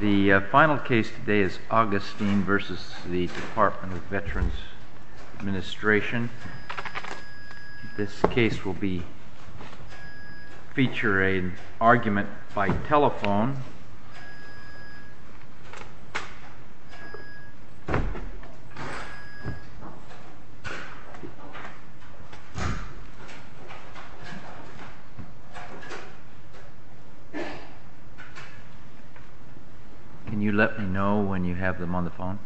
The final case today is Augustine v. Department of Veterans Administration. This case will feature an argument by telephone. Can you let me know when you have them on the phone?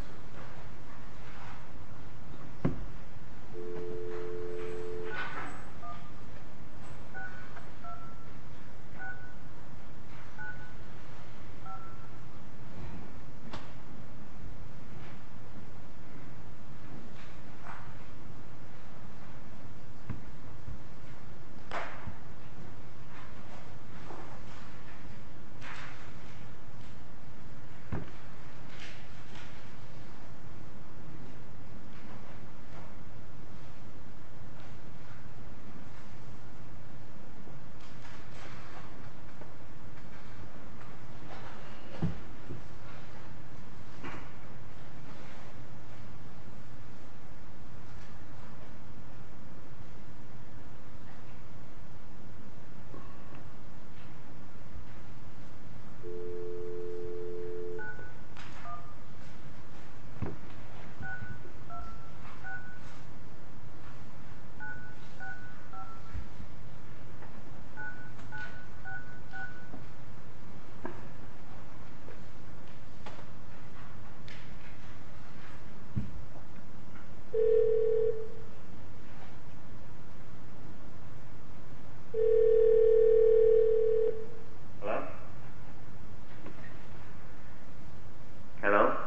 Hello? Hello? Hello?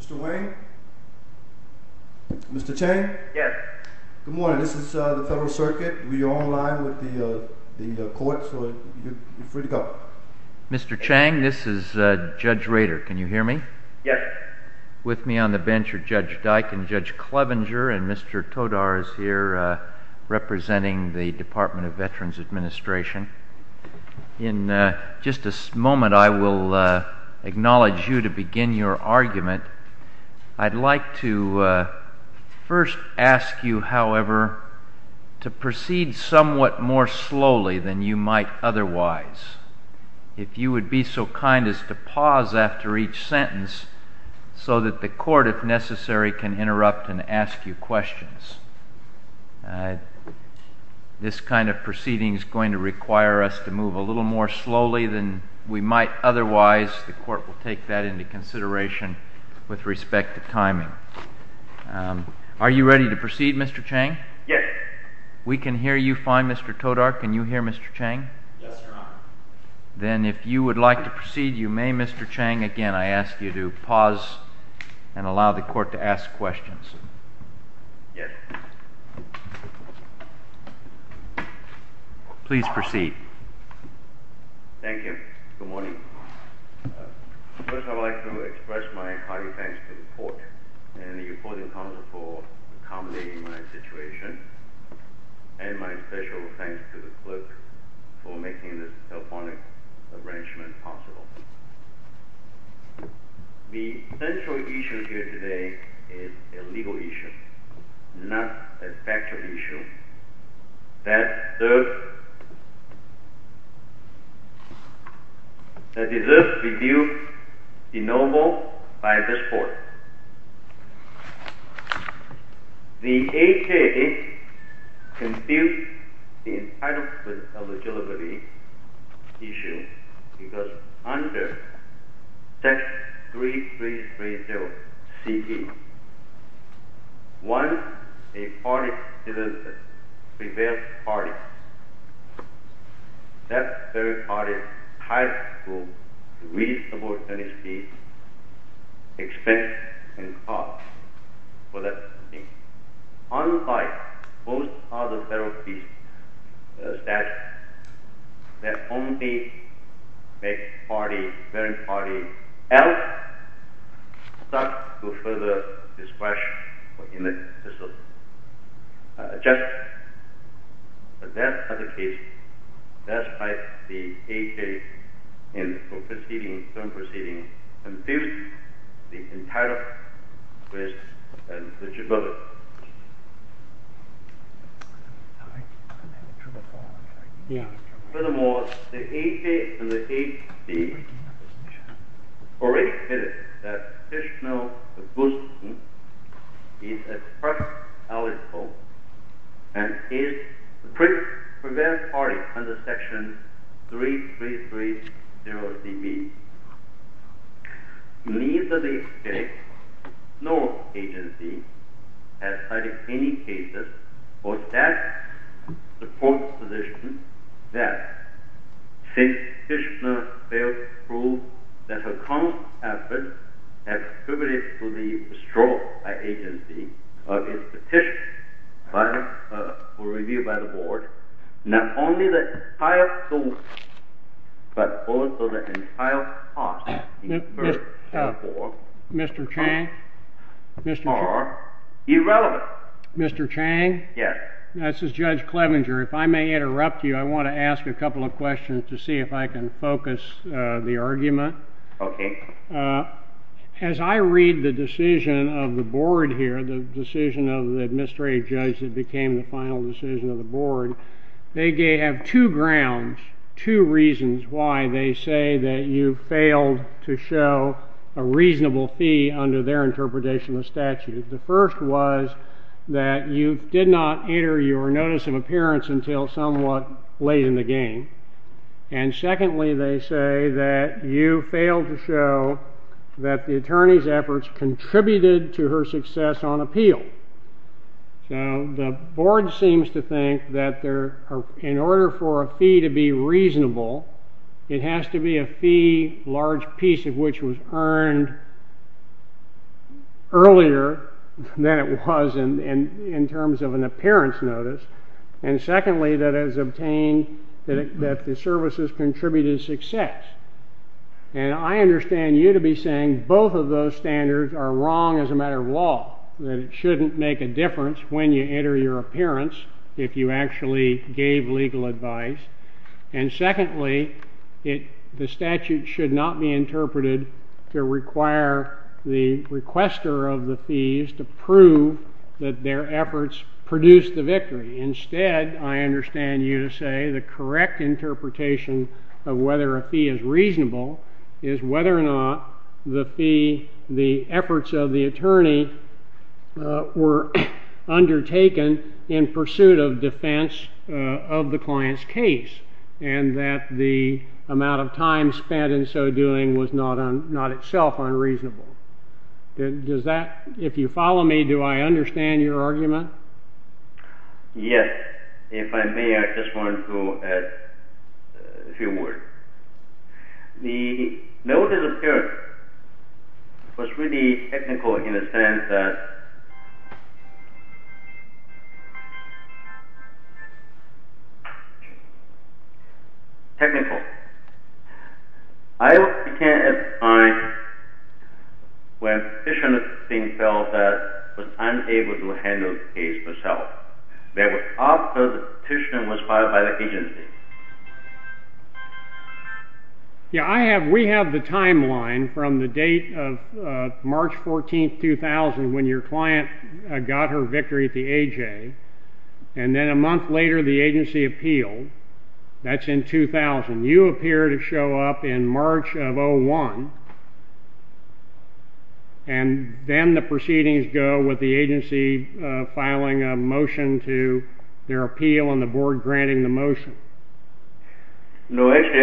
Mr. Wayne? Mr. Chang? Yes. Good morning. This is the Federal Circuit. We are online with the court, so you're free to go. Mr. Chang, this is Judge Rader. Can you hear me? Yes. With me on the bench are Judge Dike and Judge Clevenger, and Mr. Todar is here representing the Department of Veterans Administration. In just a moment, I will acknowledge you to begin your argument. I'd like to first ask you, however, to proceed somewhat more slowly than you might otherwise. If you would be so kind as to pause after each sentence so that the court, if necessary, can interrupt and ask you questions. This kind of proceeding is going to require us to move a little more slowly than we might otherwise. The court will take that into consideration with respect to timing. Are you ready to proceed, Mr. Chang? Yes. We can hear you fine, Mr. Todar. Can you hear Mr. Chang? Yes, Your Honor. Then if you would like to proceed, you may, Mr. Chang. Again, I ask you to pause and allow the court to ask questions. Yes. Please proceed. Thank you. Good morning. First, I would like to express my hearty thanks to the court and the reporting counsel for accommodating my situation, and my special thanks to the clerk for making this telephonic arrangement possible. The central issue here today is a legal issue, not a factual issue. That deserves to be renewed by this court. The AKA confused the entitlement of the delivery issue because under text 3330-CT, once a party is a prepared party, that very party has to reach an opportunity, expense, and cost for that party. Unlike most other federal statutes that only make the prepared party out, stuck to further discretion in the system. Just as that other case, that's why the AKA, in its own proceeding, confused the entitlement with eligibility. Furthermore, the AKA and the ACA already admitted that Kishinev Agustin is expressed eligible and is a prepared party under section 3330-DB. Needless to say, no agency has cited any cases or stats to support the position that since Kishinev failed to prove that her current efforts have contributed to the stroke by agency, or is petitioned for review by the board, not only the entire source, but also the entire cost incurred. Therefore, costs are irrelevant. The board has two grounds, two reasons why they say that you failed to show a reasonable fee under their interpretation of the statute. The first was that you did not enter your notice of appearance until somewhat late in the game. And secondly, they say that you failed to show that the attorney's efforts contributed to her success on appeal. So the board seems to think that in order for a fee to be reasonable, it has to be a fee large piece of which was earned earlier than it was in terms of an appearance notice. And secondly, that it was obtained that the services contributed to success. And I understand you to be saying both of those standards are wrong as a matter of law, that it shouldn't make a difference when you enter your appearance if you actually gave legal advice. And secondly, the statute should not be interpreted to require the requester of the fees to prove that their efforts produced the victory. Instead, I understand you to say the correct interpretation of whether a fee is reasonable is whether or not the efforts of the attorney were undertaken in pursuit of defense of the client's case, and that the amount of time spent in so doing was not itself unreasonable. If you follow me, do I understand your argument? Yes. If I may, I just want to add a few words. The notice of appearance was really technical in the sense that... ...that the petition was filed by the agency. No, actually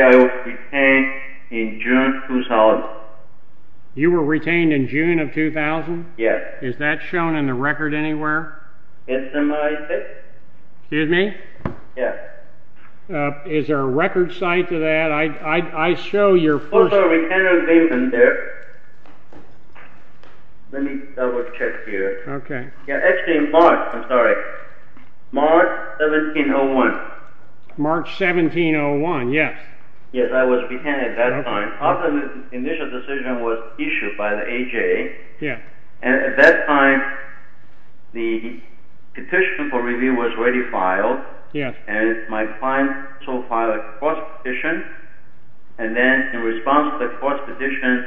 I was retained in June 2000. Yes. Yes, that's what I said. Yes. Is there a record cite to that? I show your first... There's a retainer's statement there. Let me double check here. Okay. Yeah, actually in March, I'm sorry. March 1701. March 1701, yes. Yes, I was retained at that time. After the initial decision was issued by the AJA. Yeah. And at that time, the petition for review was already filed. Yes. And my client also filed a cross-petition. And then in response to the cross-petition,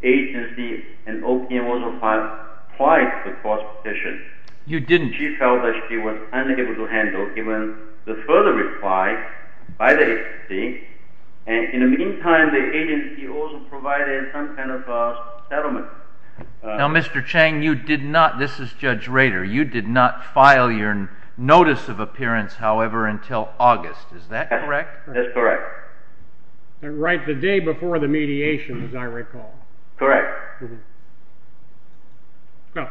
agency and OPM also filed twice the cross-petition. You didn't. She felt that she was unable to handle even the further reply by the agency. And in the meantime, the agency also provided some kind of settlement. Now, Mr. Chang, you did not, this is Judge Rader, you did not file your notice of appearance, however, until August. Is that correct? That's correct. Right the day before the mediation, as I recall. Correct. Well,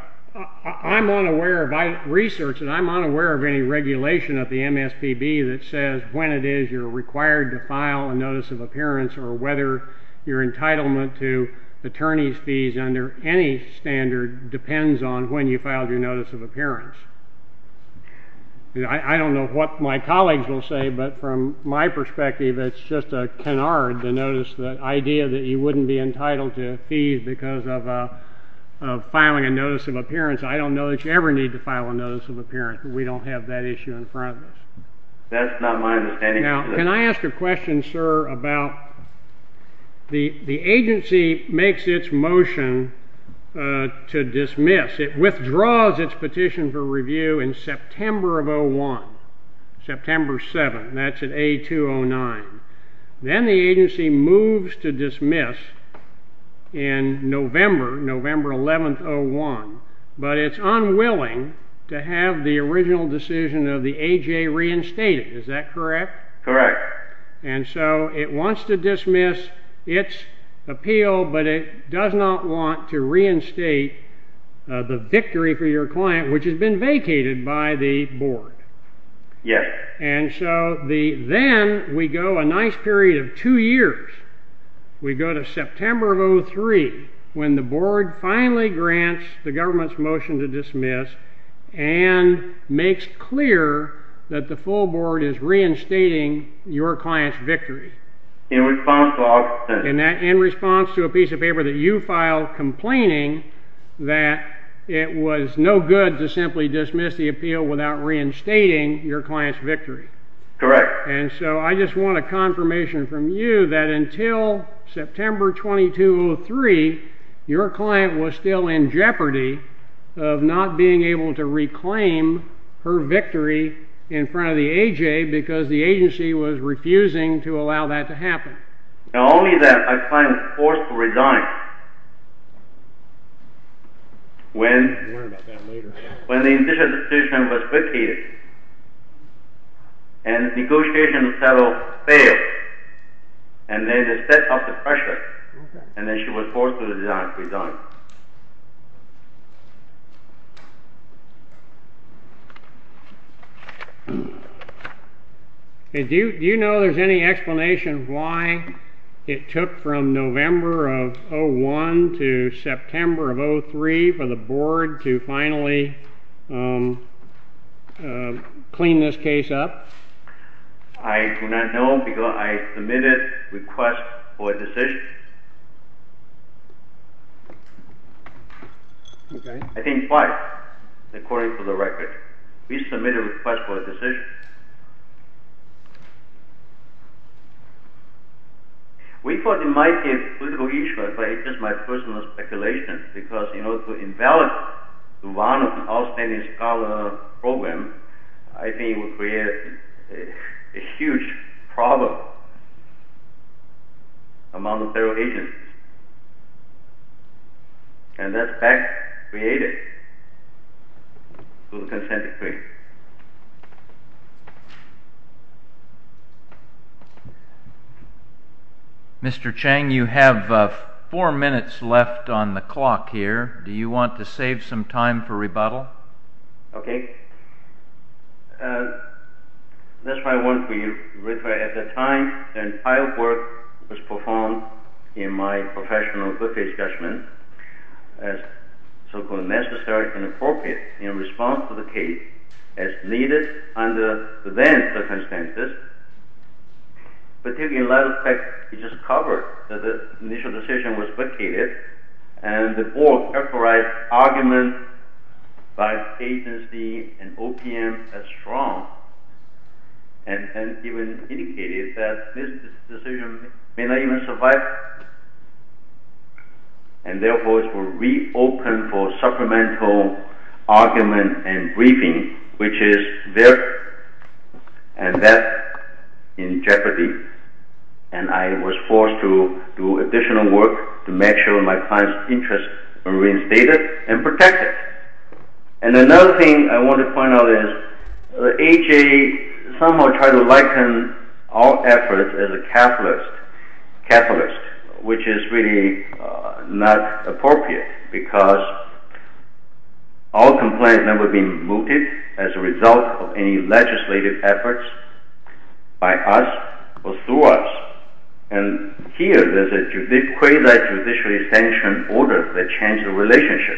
I'm unaware of research, and I'm unaware of any regulation of the MSPB that says when it is you're required to file a notice of appearance or whether your entitlement to attorney's fees under any standard depends on when you filed your notice of appearance. I don't know what my colleagues will say, but from my perspective, it's just a canard, the idea that you wouldn't be entitled to fees because of filing a notice of appearance. I don't know that you ever need to file a notice of appearance. We don't have that issue in front of us. That's not my understanding. Now, can I ask a question, sir, about the agency makes its motion to dismiss. It withdraws its petition for review in September of 2001, September 7. That's at A209. Then the agency moves to dismiss in November, November 11, 2001, but it's unwilling to have the original decision of the AJ reinstated. Is that correct? Correct. And so it wants to dismiss its appeal, but it does not want to reinstate the victory for your client, which has been vacated by the board. Yes. And so then we go a nice period of two years. We go to September of 2003, when the board finally grants the government's motion to dismiss and makes clear that the full board is reinstating your client's victory. In response to August 7th. In response to a piece of paper that you filed complaining that it was no good to simply dismiss the appeal without reinstating your client's victory. Correct. And so I just want a confirmation from you that until September 2203, your client was still in jeopardy of not being able to reclaim her victory in front of the AJ because the agency was refusing to allow that to happen. Not only that, my client was forced to resign when the initial decision was vacated and negotiations settled failed and they just set off the pressure and then she was forced to resign. Do you know there's any explanation why it took from November of 01 to September of 03 for the board to finally clean this case up? I do not know because I submitted a request for a decision. I think five, according to the record. We submitted a request for a decision. We thought it might be a political issue, but it's just my personal speculation because in order to invalidate the run of an outstanding scholar program, I think it would create a huge problem among the federal agencies. And that's back created through the consent decree. Thank you. Mr. Chang, you have four minutes left on the clock here. Do you want to save some time for rebuttal? Okay. That's my one for you. In response to the case, as needed under the then circumstances, particularly in light of the fact that it just covered that the initial decision was vacated and the board characterized arguments by agency and OPM as strong and even indicated that this decision may not even survive and therefore it will reopen for supplemental argument and briefing, which is there and that in jeopardy. And I was forced to do additional work to make sure my client's interest were reinstated and protected. And another thing I want to point out is AHA somehow tried to liken our efforts as a capitalist, which is really not appropriate because our complaints have never been mooted as a result of any legislative efforts by us or through us. And here there's a quasi-judicially sanctioned order that changed the relationship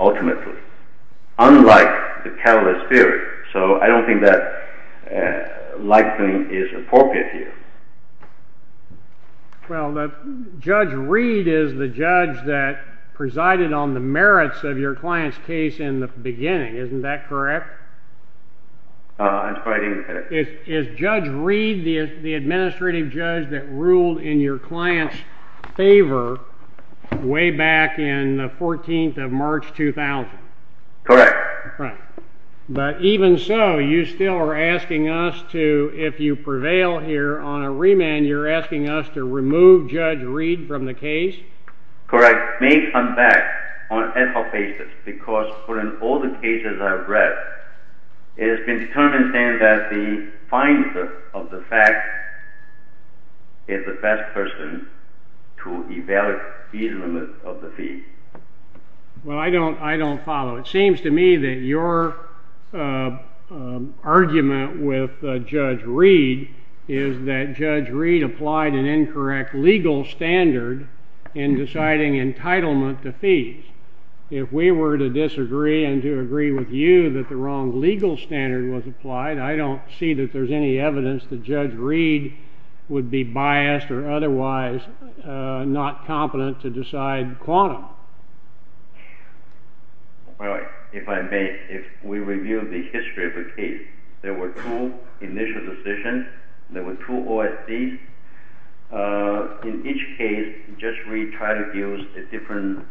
ultimately, unlike the capitalist theory. So I don't think that likening is appropriate here. Well, Judge Reed is the judge that presided on the merits of your client's case in the beginning. Isn't that correct? That's quite incorrect. Is Judge Reed the administrative judge that ruled in your client's favor way back in the 14th of March, 2000? Correct. Correct. But even so, you still are asking us to, if you prevail here on a remand, you're asking us to remove Judge Reed from the case? Correct. May come back on ethical basis because from all the cases I've read, it has been determined then that the fine of the fact is the best person to evaluate the reasonableness of the fee. Well, I don't follow. It seems to me that your argument with Judge Reed is that Judge Reed applied an incorrect legal standard in deciding entitlement to fees. If we were to disagree and to agree with you that the wrong legal standard was applied, I don't see that there's any evidence that Judge Reed would be biased or otherwise not competent to decide quantum. Well, if I may, if we review the history of the case, there were two initial decisions, there were two OSDs. In each case, Judge Reed tried to use a different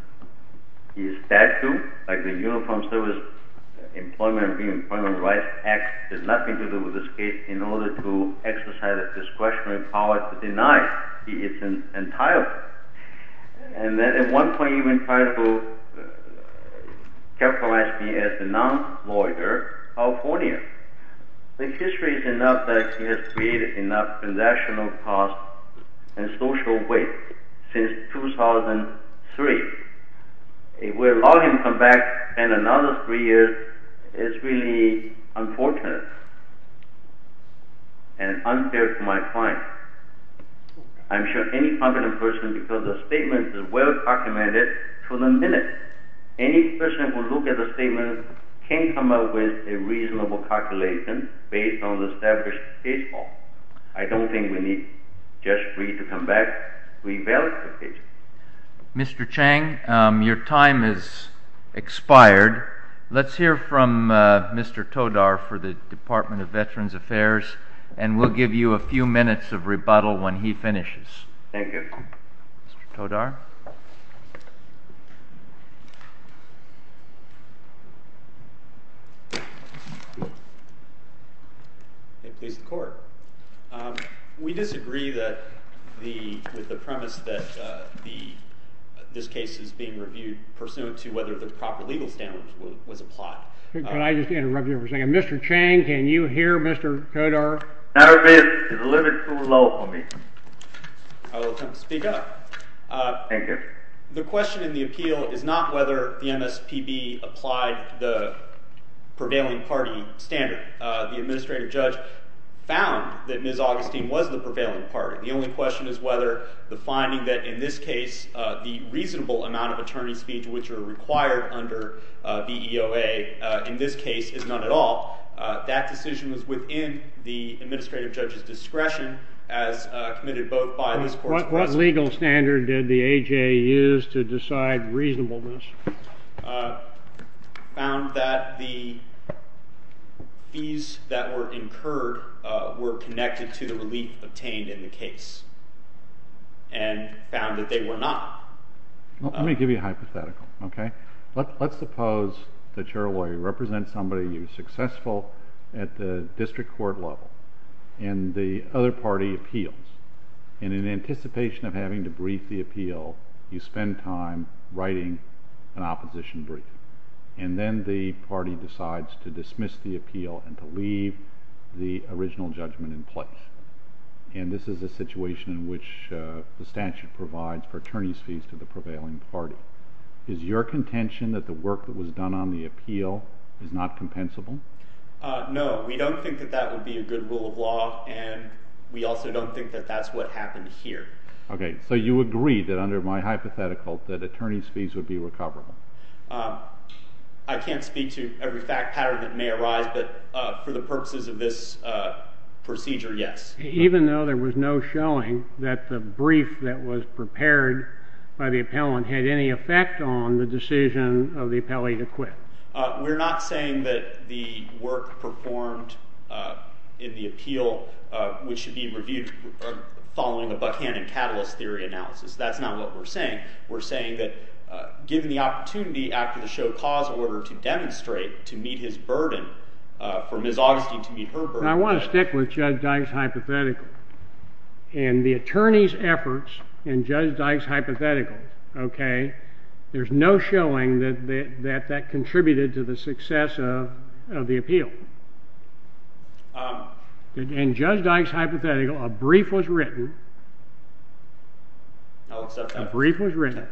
statute, like the Uniform Service Employment and Reemployment Rights Act has nothing to do with this case, in order to exercise its discretionary power to deny its entitlement. And then at one point he even tried to capitalize me as a non-lawyer, California. The history is enough that he has created enough transactional costs and social weight since 2003. If we allow him to come back in another three years, it's really unfortunate and unfair to my client. I'm sure any competent person, because the statement is well-documented, to the minute any person who looks at the statement can come up with a reasonable calculation based on the established case law. I don't think we need Judge Reed to come back to evaluate the case. Mr. Chang, your time has expired. Let's hear from Mr. Todar for the Department of Veterans Affairs, and we'll give you a few minutes of rebuttal when he finishes. Thank you. Mr. Todar? May it please the Court. We disagree with the premise that this case is being reviewed pursuant to whether the proper legal standards was applied. Could I just interrupt you for a second? Mr. Chang, can you hear Mr. Todar? Matter of fact, it's a little bit too low for me. I will attempt to speak up. Thank you. The question in the appeal is not whether the MSPB applied the prevailing party standard. The administrative judge found that Ms. Augustine was the prevailing party. The only question is whether the finding that in this case the reasonable amount of attorney speech, which are required under the EOA in this case, is not at all. That decision was within the administrative judge's discretion as committed both by this Court's process. What legal standard did the AJA use to decide reasonableness? It found that the fees that were incurred were connected to the relief obtained in the case and found that they were not. Let me give you a hypothetical. Let's suppose that your lawyer represents somebody who is successful at the district court level and the other party appeals. In anticipation of having to brief the appeal, you spend time writing an opposition brief. Then the party decides to dismiss the appeal and to leave the original judgment in place. And this is a situation in which the statute provides for attorney's fees to the prevailing party. Is your contention that the work that was done on the appeal is not compensable? No, we don't think that that would be a good rule of law, and we also don't think that that's what happened here. Okay, so you agree that under my hypothetical that attorney's fees would be recoverable. I can't speak to every fact pattern that may arise, but for the purposes of this procedure, yes. Even though there was no showing that the brief that was prepared by the appellant had any effect on the decision of the appellee to quit? We're not saying that the work performed in the appeal, which should be reviewed following a Buckhannon catalyst theory analysis. That's not what we're saying. We're saying that given the opportunity after the show cause order to demonstrate, to meet his burden, for Ms. Augustine to meet her burden. I want to stick with Judge Dyke's hypothetical. In the attorney's efforts in Judge Dyke's hypothetical, there's no showing that that contributed to the success of the appeal. In Judge Dyke's hypothetical, a brief was written. I'll accept that. A brief was written,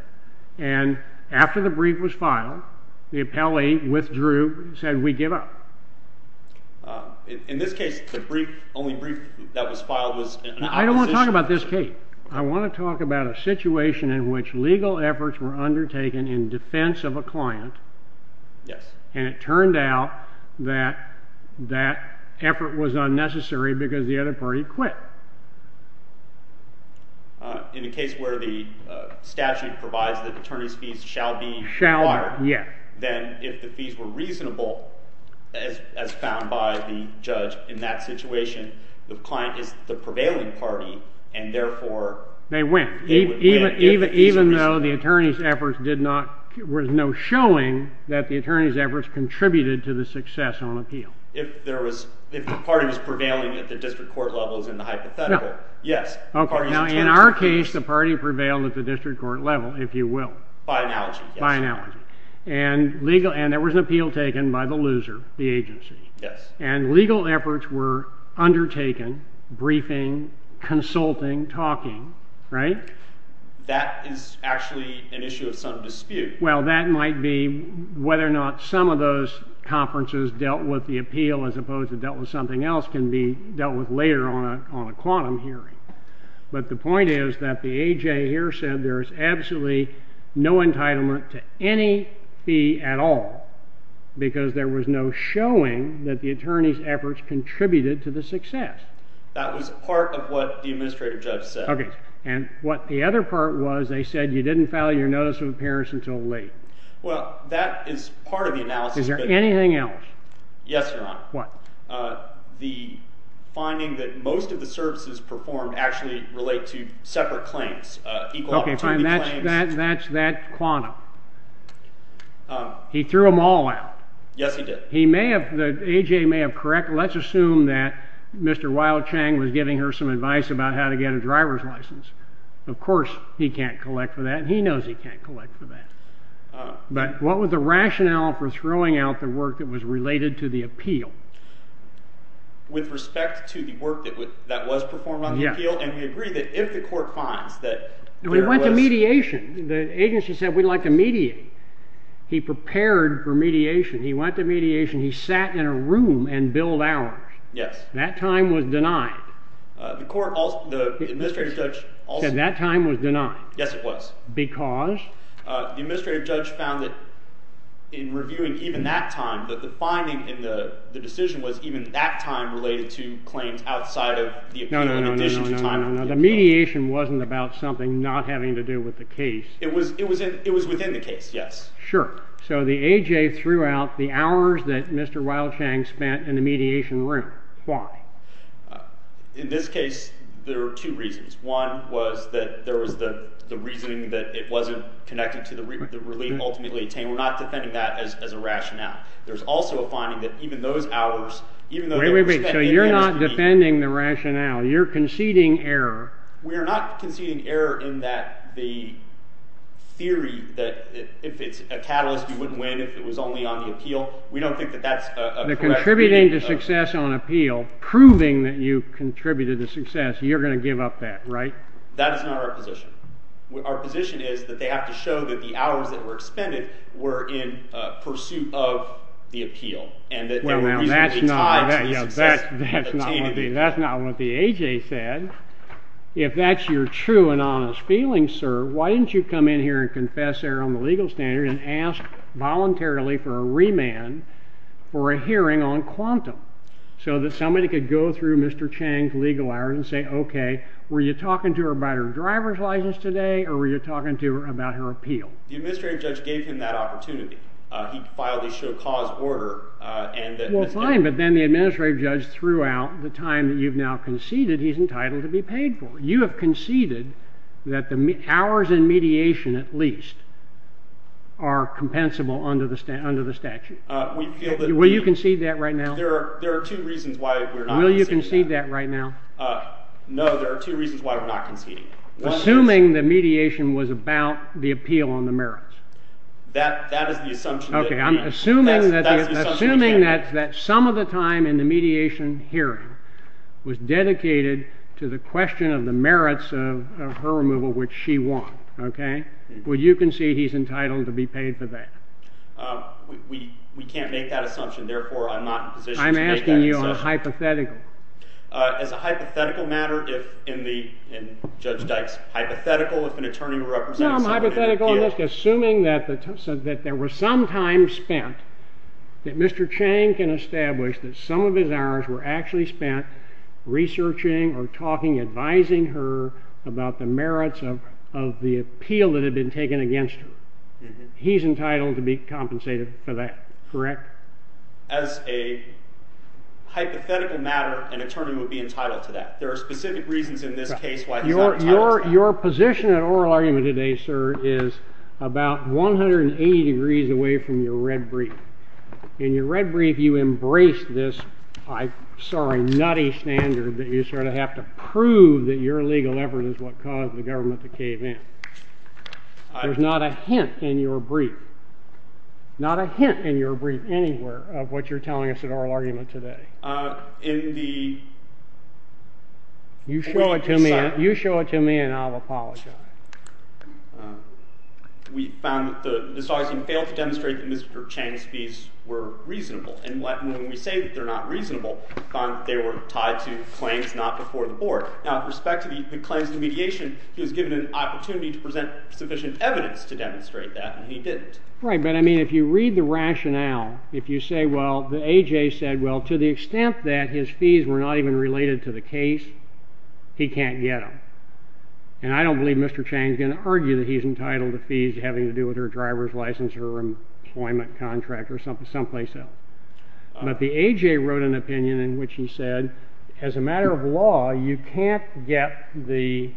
and after the brief was filed, the appellee withdrew and said, We give up. In this case, the brief, the only brief that was filed was— I don't want to talk about this case. I want to talk about a situation in which legal efforts were undertaken in defense of a client, and it turned out that that effort was unnecessary because the other party quit. In a case where the statute provides that attorney's fees shall be required, then if the fees were reasonable, as found by the judge in that situation, the client is the prevailing party, and therefore— They win, even though the attorney's efforts did not— there was no showing that the attorney's efforts contributed to the success on appeal. If the party was prevailing at the district court level in the hypothetical, yes. In our case, the party prevailed at the district court level, if you will. By analogy, yes. And there was an appeal taken by the loser, the agency. And legal efforts were undertaken, briefing, consulting, talking, right? That is actually an issue of some dispute. Well, that might be whether or not some of those conferences dealt with the appeal as opposed to dealt with something else can be dealt with later on a quantum hearing. But the point is that the A.J. here said there is absolutely no entitlement to any fee at all because there was no showing that the attorney's efforts contributed to the success. That was part of what the administrative judge said. Okay. And what the other part was, they said you didn't file your notice of appearance until late. Well, that is part of the analysis. Is there anything else? Yes, Your Honor. What? The finding that most of the services performed actually relate to separate claims, equal opportunity claims. Okay, fine. That's that quantum. He threw them all out. Yes, he did. He may have—the A.J. may have corrected. Let's assume that Mr. Weil-Chang was giving her some advice about how to get a driver's license. Of course, he can't collect for that. He knows he can't collect for that. But what was the rationale for throwing out the work that was related to the appeal? With respect to the work that was performed on the appeal? Yes. And we agree that if the court finds that there was— We went to mediation. The agency said we'd like to mediate. He prepared for mediation. He went to mediation. He sat in a room and billed hours. Yes. That time was denied. The court also—the administrative judge also— He said that time was denied. Yes, it was. Because? The administrative judge found that in reviewing even that time, that the finding in the decision was even that time related to claims outside of the— No, no, no, no, no. The mediation wasn't about something not having to do with the case. It was within the case, yes. Sure. So the A.J. threw out the hours that Mr. Wildshank spent in the mediation room. Why? In this case, there were two reasons. One was that there was the reasoning that it wasn't connected to the relief ultimately obtained. We're not defending that as a rationale. There's also a finding that even those hours, even though they were spent— Wait, wait, wait. So you're not defending the rationale. You're conceding error. We are not conceding error in that the theory that if it's a catalyst, you wouldn't win if it was only on the appeal. We don't think that that's a correct— The contributing to success on appeal, proving that you contributed to success, you're going to give up that, right? That is not our position. Our position is that they have to show that the hours that were expended were in pursuit of the appeal and that they were reasonably tied to the success obtained in the appeal. If that's your true and honest feeling, sir, why didn't you come in here and confess error on the legal standard and ask voluntarily for a remand for a hearing on quantum so that somebody could go through Mr. Chang's legal hours and say, okay, were you talking to her about her driver's license today or were you talking to her about her appeal? The administrative judge gave him that opportunity. He filed the show cause order and— Fine, but then the administrative judge threw out the time that you've now conceded he's entitled to be paid for. You have conceded that the hours in mediation at least are compensable under the statute. Will you concede that right now? There are two reasons why we're not conceding that. Will you concede that right now? No, there are two reasons why we're not conceding. Assuming the mediation was about the appeal on the merits. That is the assumption that— Okay, I'm assuming that some of the time in the mediation hearing was dedicated to the question of the merits of her removal, which she won. Okay? Will you concede he's entitled to be paid for that? We can't make that assumption. Therefore, I'm not in a position to make that assumption. I'm asking you on a hypothetical. As a hypothetical matter, if in Judge Dyke's hypothetical, if an attorney represented somebody— Assuming that there was some time spent, that Mr. Chang can establish that some of his hours were actually spent researching or talking, advising her about the merits of the appeal that had been taken against her. He's entitled to be compensated for that, correct? As a hypothetical matter, an attorney would be entitled to that. There are specific reasons in this case why he's not entitled to that. Your position in oral argument today, sir, is about 180 degrees away from your red brief. In your red brief, you embraced this, I'm sorry, nutty standard that you sort of have to prove that your legal effort is what caused the government to cave in. There's not a hint in your brief, not a hint in your brief anywhere, of what you're telling us in oral argument today. You show it to me, and I'll apologize. We found that Mr. Augustine failed to demonstrate that Mr. Chang's fees were reasonable. And when we say that they're not reasonable, we found that they were tied to claims not before the board. Now, with respect to the claims to mediation, he was given an opportunity to present sufficient evidence to demonstrate that, and he didn't. Right, but I mean, if you read the rationale, if you say, well, the A.J. said, well, to the extent that his fees were not even related to the case, he can't get them. And I don't believe Mr. Chang's going to argue that he's entitled to fees having to do with her driver's license or employment contract or someplace else. But the A.J. wrote an opinion in which he said, as a matter of law, you can't get the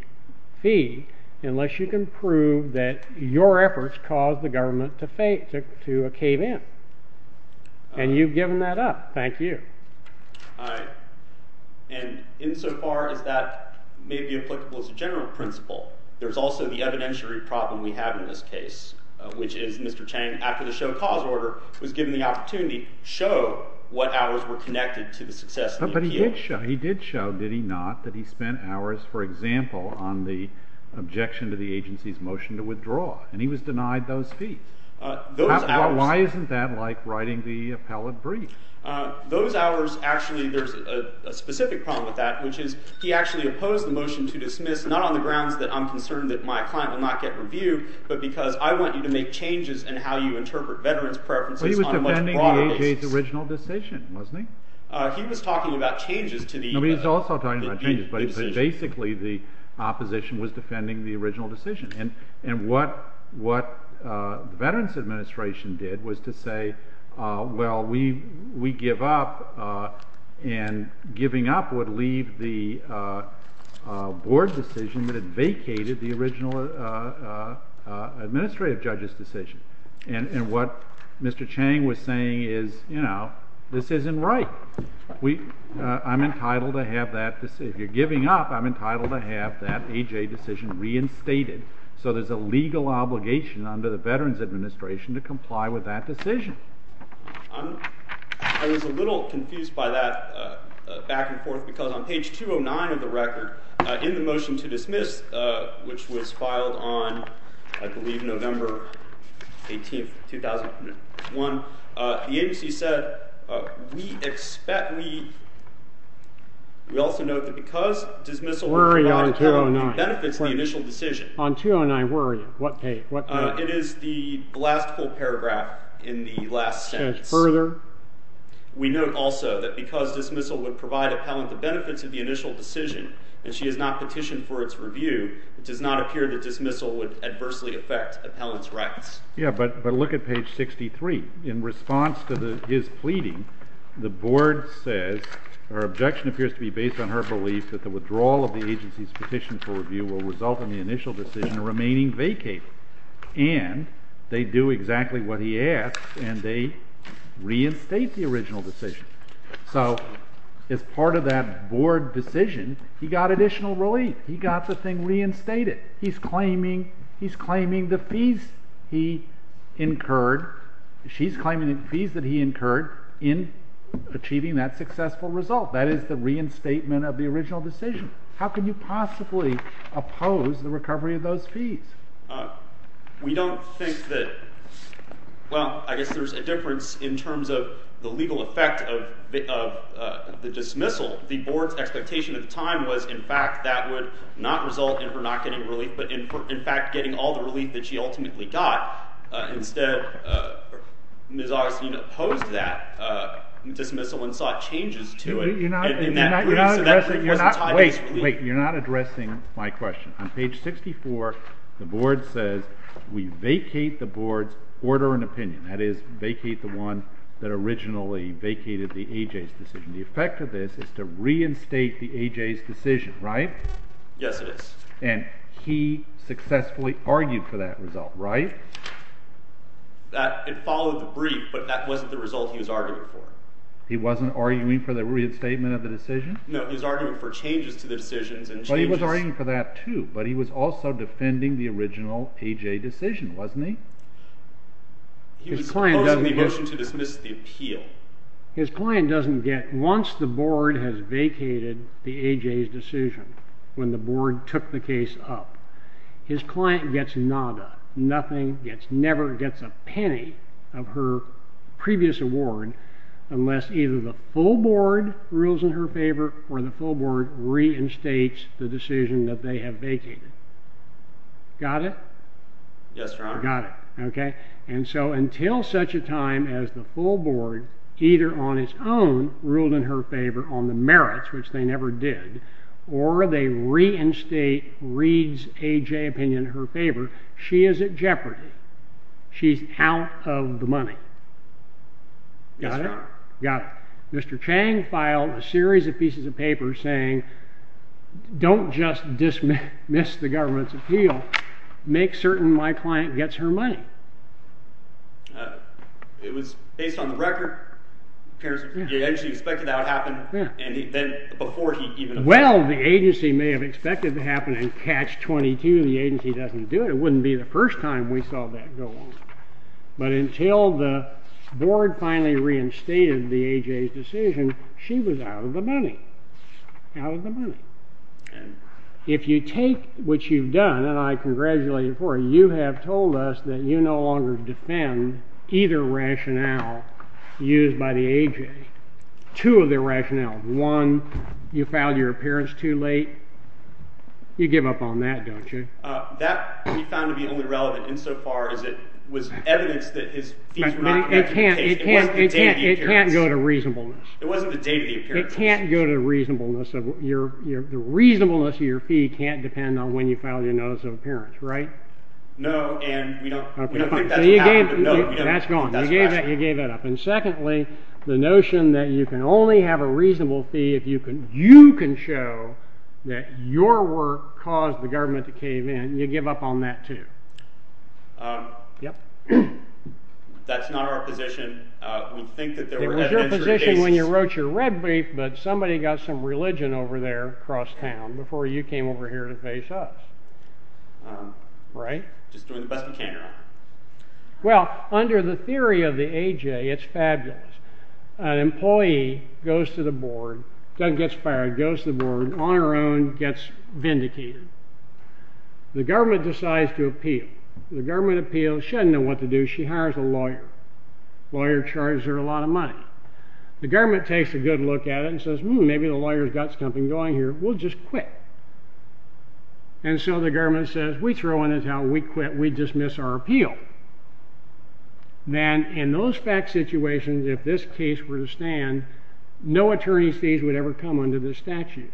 fee unless you can prove that your efforts caused the government to cave in. And you've given that up. Thank you. All right. And insofar as that may be applicable as a general principle, there's also the evidentiary problem we have in this case, which is Mr. Chang, after the show cause order, was given the opportunity to show what hours were connected to the success of the EPA. But he did show, did he not, that he spent hours, for example, on the objection to the agency's motion to withdraw. And he was denied those fees. Those hours – Why isn't that like writing the appellate brief? Those hours – actually, there's a specific problem with that, which is he actually opposed the motion to dismiss, not on the grounds that I'm concerned that my client will not get reviewed, but because I want you to make changes in how you interpret veterans' preferences on a much broader basis. Well, he was defending the A.J.'s original decision, wasn't he? He was talking about changes to the – No, he was also talking about changes, but basically the opposition was defending the original decision. And what the Veterans Administration did was to say, well, we give up, and giving up would leave the board decision that had vacated the original administrative judge's decision. And what Mr. Chang was saying is, you know, this isn't right. I'm entitled to have that – if you're giving up, I'm entitled to have that A.J. decision reinstated. So there's a legal obligation under the Veterans Administration to comply with that decision. I was a little confused by that back and forth, because on page 209 of the record, in the motion to dismiss, which was filed on, I believe, November 18, 2001, the agency said, we expect – we also note that because dismissal – Where are you on 209? Benefits the initial decision. On 209, where are you? What page? It is the last full paragraph in the last sentence. Further? We note also that because dismissal would provide appellant the benefits of the initial decision, and she has not petitioned for its review, it does not appear that dismissal would adversely affect appellant's rights. Yeah, but look at page 63. In response to his pleading, the board says her objection appears to be based on her belief that the withdrawal of the agency's petition for review will result in the initial decision remaining vacated. And they do exactly what he asks, and they reinstate the original decision. So as part of that board decision, he got additional relief. He got the thing reinstated. He's claiming – he's claiming the fees he incurred – she's claiming the fees that he incurred in achieving that successful result. That is the reinstatement of the original decision. How can you possibly oppose the recovery of those fees? We don't think that – well, I guess there's a difference in terms of the legal effect of the dismissal. The board's expectation at the time was, in fact, that would not result in her not getting relief, but in fact getting all the relief that she ultimately got. Instead, Ms. Augustine opposed that dismissal and sought changes to it. Wait, wait. You're not addressing my question. On page 64, the board says, we vacate the board's order and opinion. That is, vacate the one that originally vacated the A.J.'s decision. The effect of this is to reinstate the A.J.'s decision, right? Yes, it is. And he successfully argued for that result, right? It followed the brief, but that wasn't the result he was arguing for. He wasn't arguing for the reinstatement of the decision? No, he was arguing for changes to the decisions. Well, he was arguing for that, too, but he was also defending the original A.J. decision, wasn't he? He was opposing the motion to dismiss the appeal. His client doesn't get – once the board has vacated the A.J.'s decision, when the board took the case up, his client gets nada. Nothing gets – never gets a penny of her previous award unless either the full board rules in her favor or the full board reinstates the decision that they have vacated. Got it? Yes, Your Honor. Got it. Okay. And so until such a time as the full board, either on its own, ruled in her favor on the merits, which they never did, or they reinstate Reed's A.J. opinion in her favor, she is at jeopardy. She's out of the money. Yes, Your Honor. Got it. Mr. Chang filed a series of pieces of paper saying, don't just dismiss the government's appeal. Make certain my client gets her money. It was based on the record. It appears he actually expected that would happen, and then before he even – Well, the agency may have expected it to happen in Catch-22. The agency doesn't do it. It wouldn't be the first time we saw that go on. But until the board finally reinstated the A.J.'s decision, she was out of the money, out of the money. And if you take what you've done, and I congratulate you for it, you have told us that you no longer defend either rationale used by the A.J. Two of the rationales. One, you filed your appearance too late. You give up on that, don't you? That we found to be only relevant insofar as it was evidence that his fees were not – It can't go to reasonableness. It wasn't the date of the appearance. It can't go to reasonableness. The reasonableness of your fee can't depend on when you filed your notice of appearance, right? No, and we don't think that's what happened. That's gone. You gave that up. And secondly, the notion that you can only have a reasonable fee if you can show that your work caused the government to cave in. You give up on that too. That's not our position. It was your position when you wrote your red brief, but somebody got some religion over there across town before you came over here to face us. Right? Just doing the best we can. Well, under the theory of the A.J., it's fabulous. An employee goes to the board, doesn't get fired, goes to the board, on her own, gets vindicated. The government decides to appeal. The government appeals. She doesn't know what to do. She hires a lawyer. The lawyer charges her a lot of money. The government takes a good look at it and says, Hmm, maybe the lawyer's got something going here. We'll just quit. And so the government says, We throw in a towel. We quit. We dismiss our appeal. Then, in those fact situations, if this case were to stand, no attorney's fees would ever come under this statute.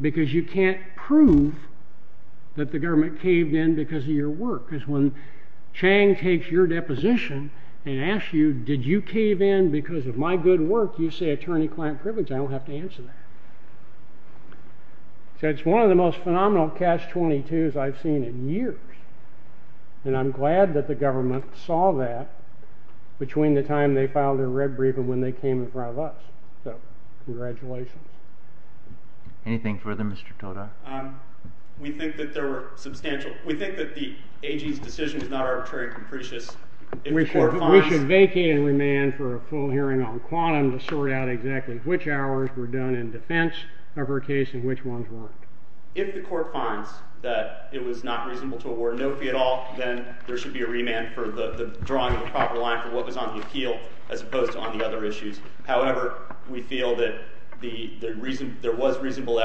Because you can't prove that the government caved in because of your work. Because when Chang takes your deposition and asks you, Did you cave in because of my good work? You say, Attorney-client privilege. I don't have to answer that. So it's one of the most phenomenal Catch-22s I've seen in years. And I'm glad that the government saw that between the time they filed their red brief and when they came in front of us. So, congratulations. Anything further, Mr. Toda? We think that there were substantial We think that the AG's decision is not arbitrary and capricious. We should vacate and remand for a full hearing on Quantum to sort out exactly which hours were done in defense of her case and which ones weren't. If the court finds that it was not reasonable to award no fee at all, then there should be a remand for the drawing of a proper line for what was on the appeal as opposed to on the other issues. However, we feel that there was reasonable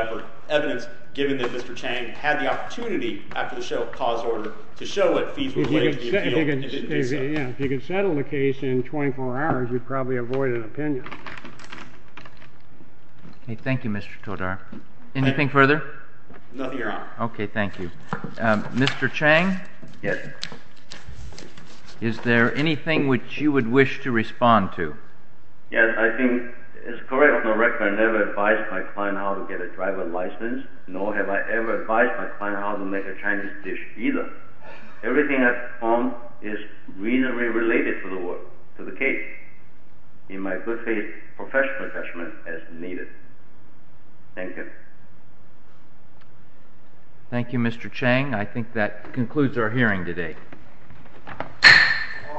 evidence, given that Mr. Chang had the opportunity, after the show of cause order, to show what fees were laid to the appeal. If you could settle the case in 24 hours, you'd probably avoid an opinion. Thank you, Mr. Toda. Anything further? No, Your Honor. Okay, thank you. Mr. Chang? Yes. Is there anything which you would wish to respond to? Yes, I think it's correct that I never advised my client how to get a driver's license, nor have I ever advised my client how to make a Chinese dish, either. Everything I've performed is reasonably related to the work, to the case, in my good faith, professional judgment, as needed. Thank you. Thank you, Mr. Chang. I think that concludes our hearing today. All rise.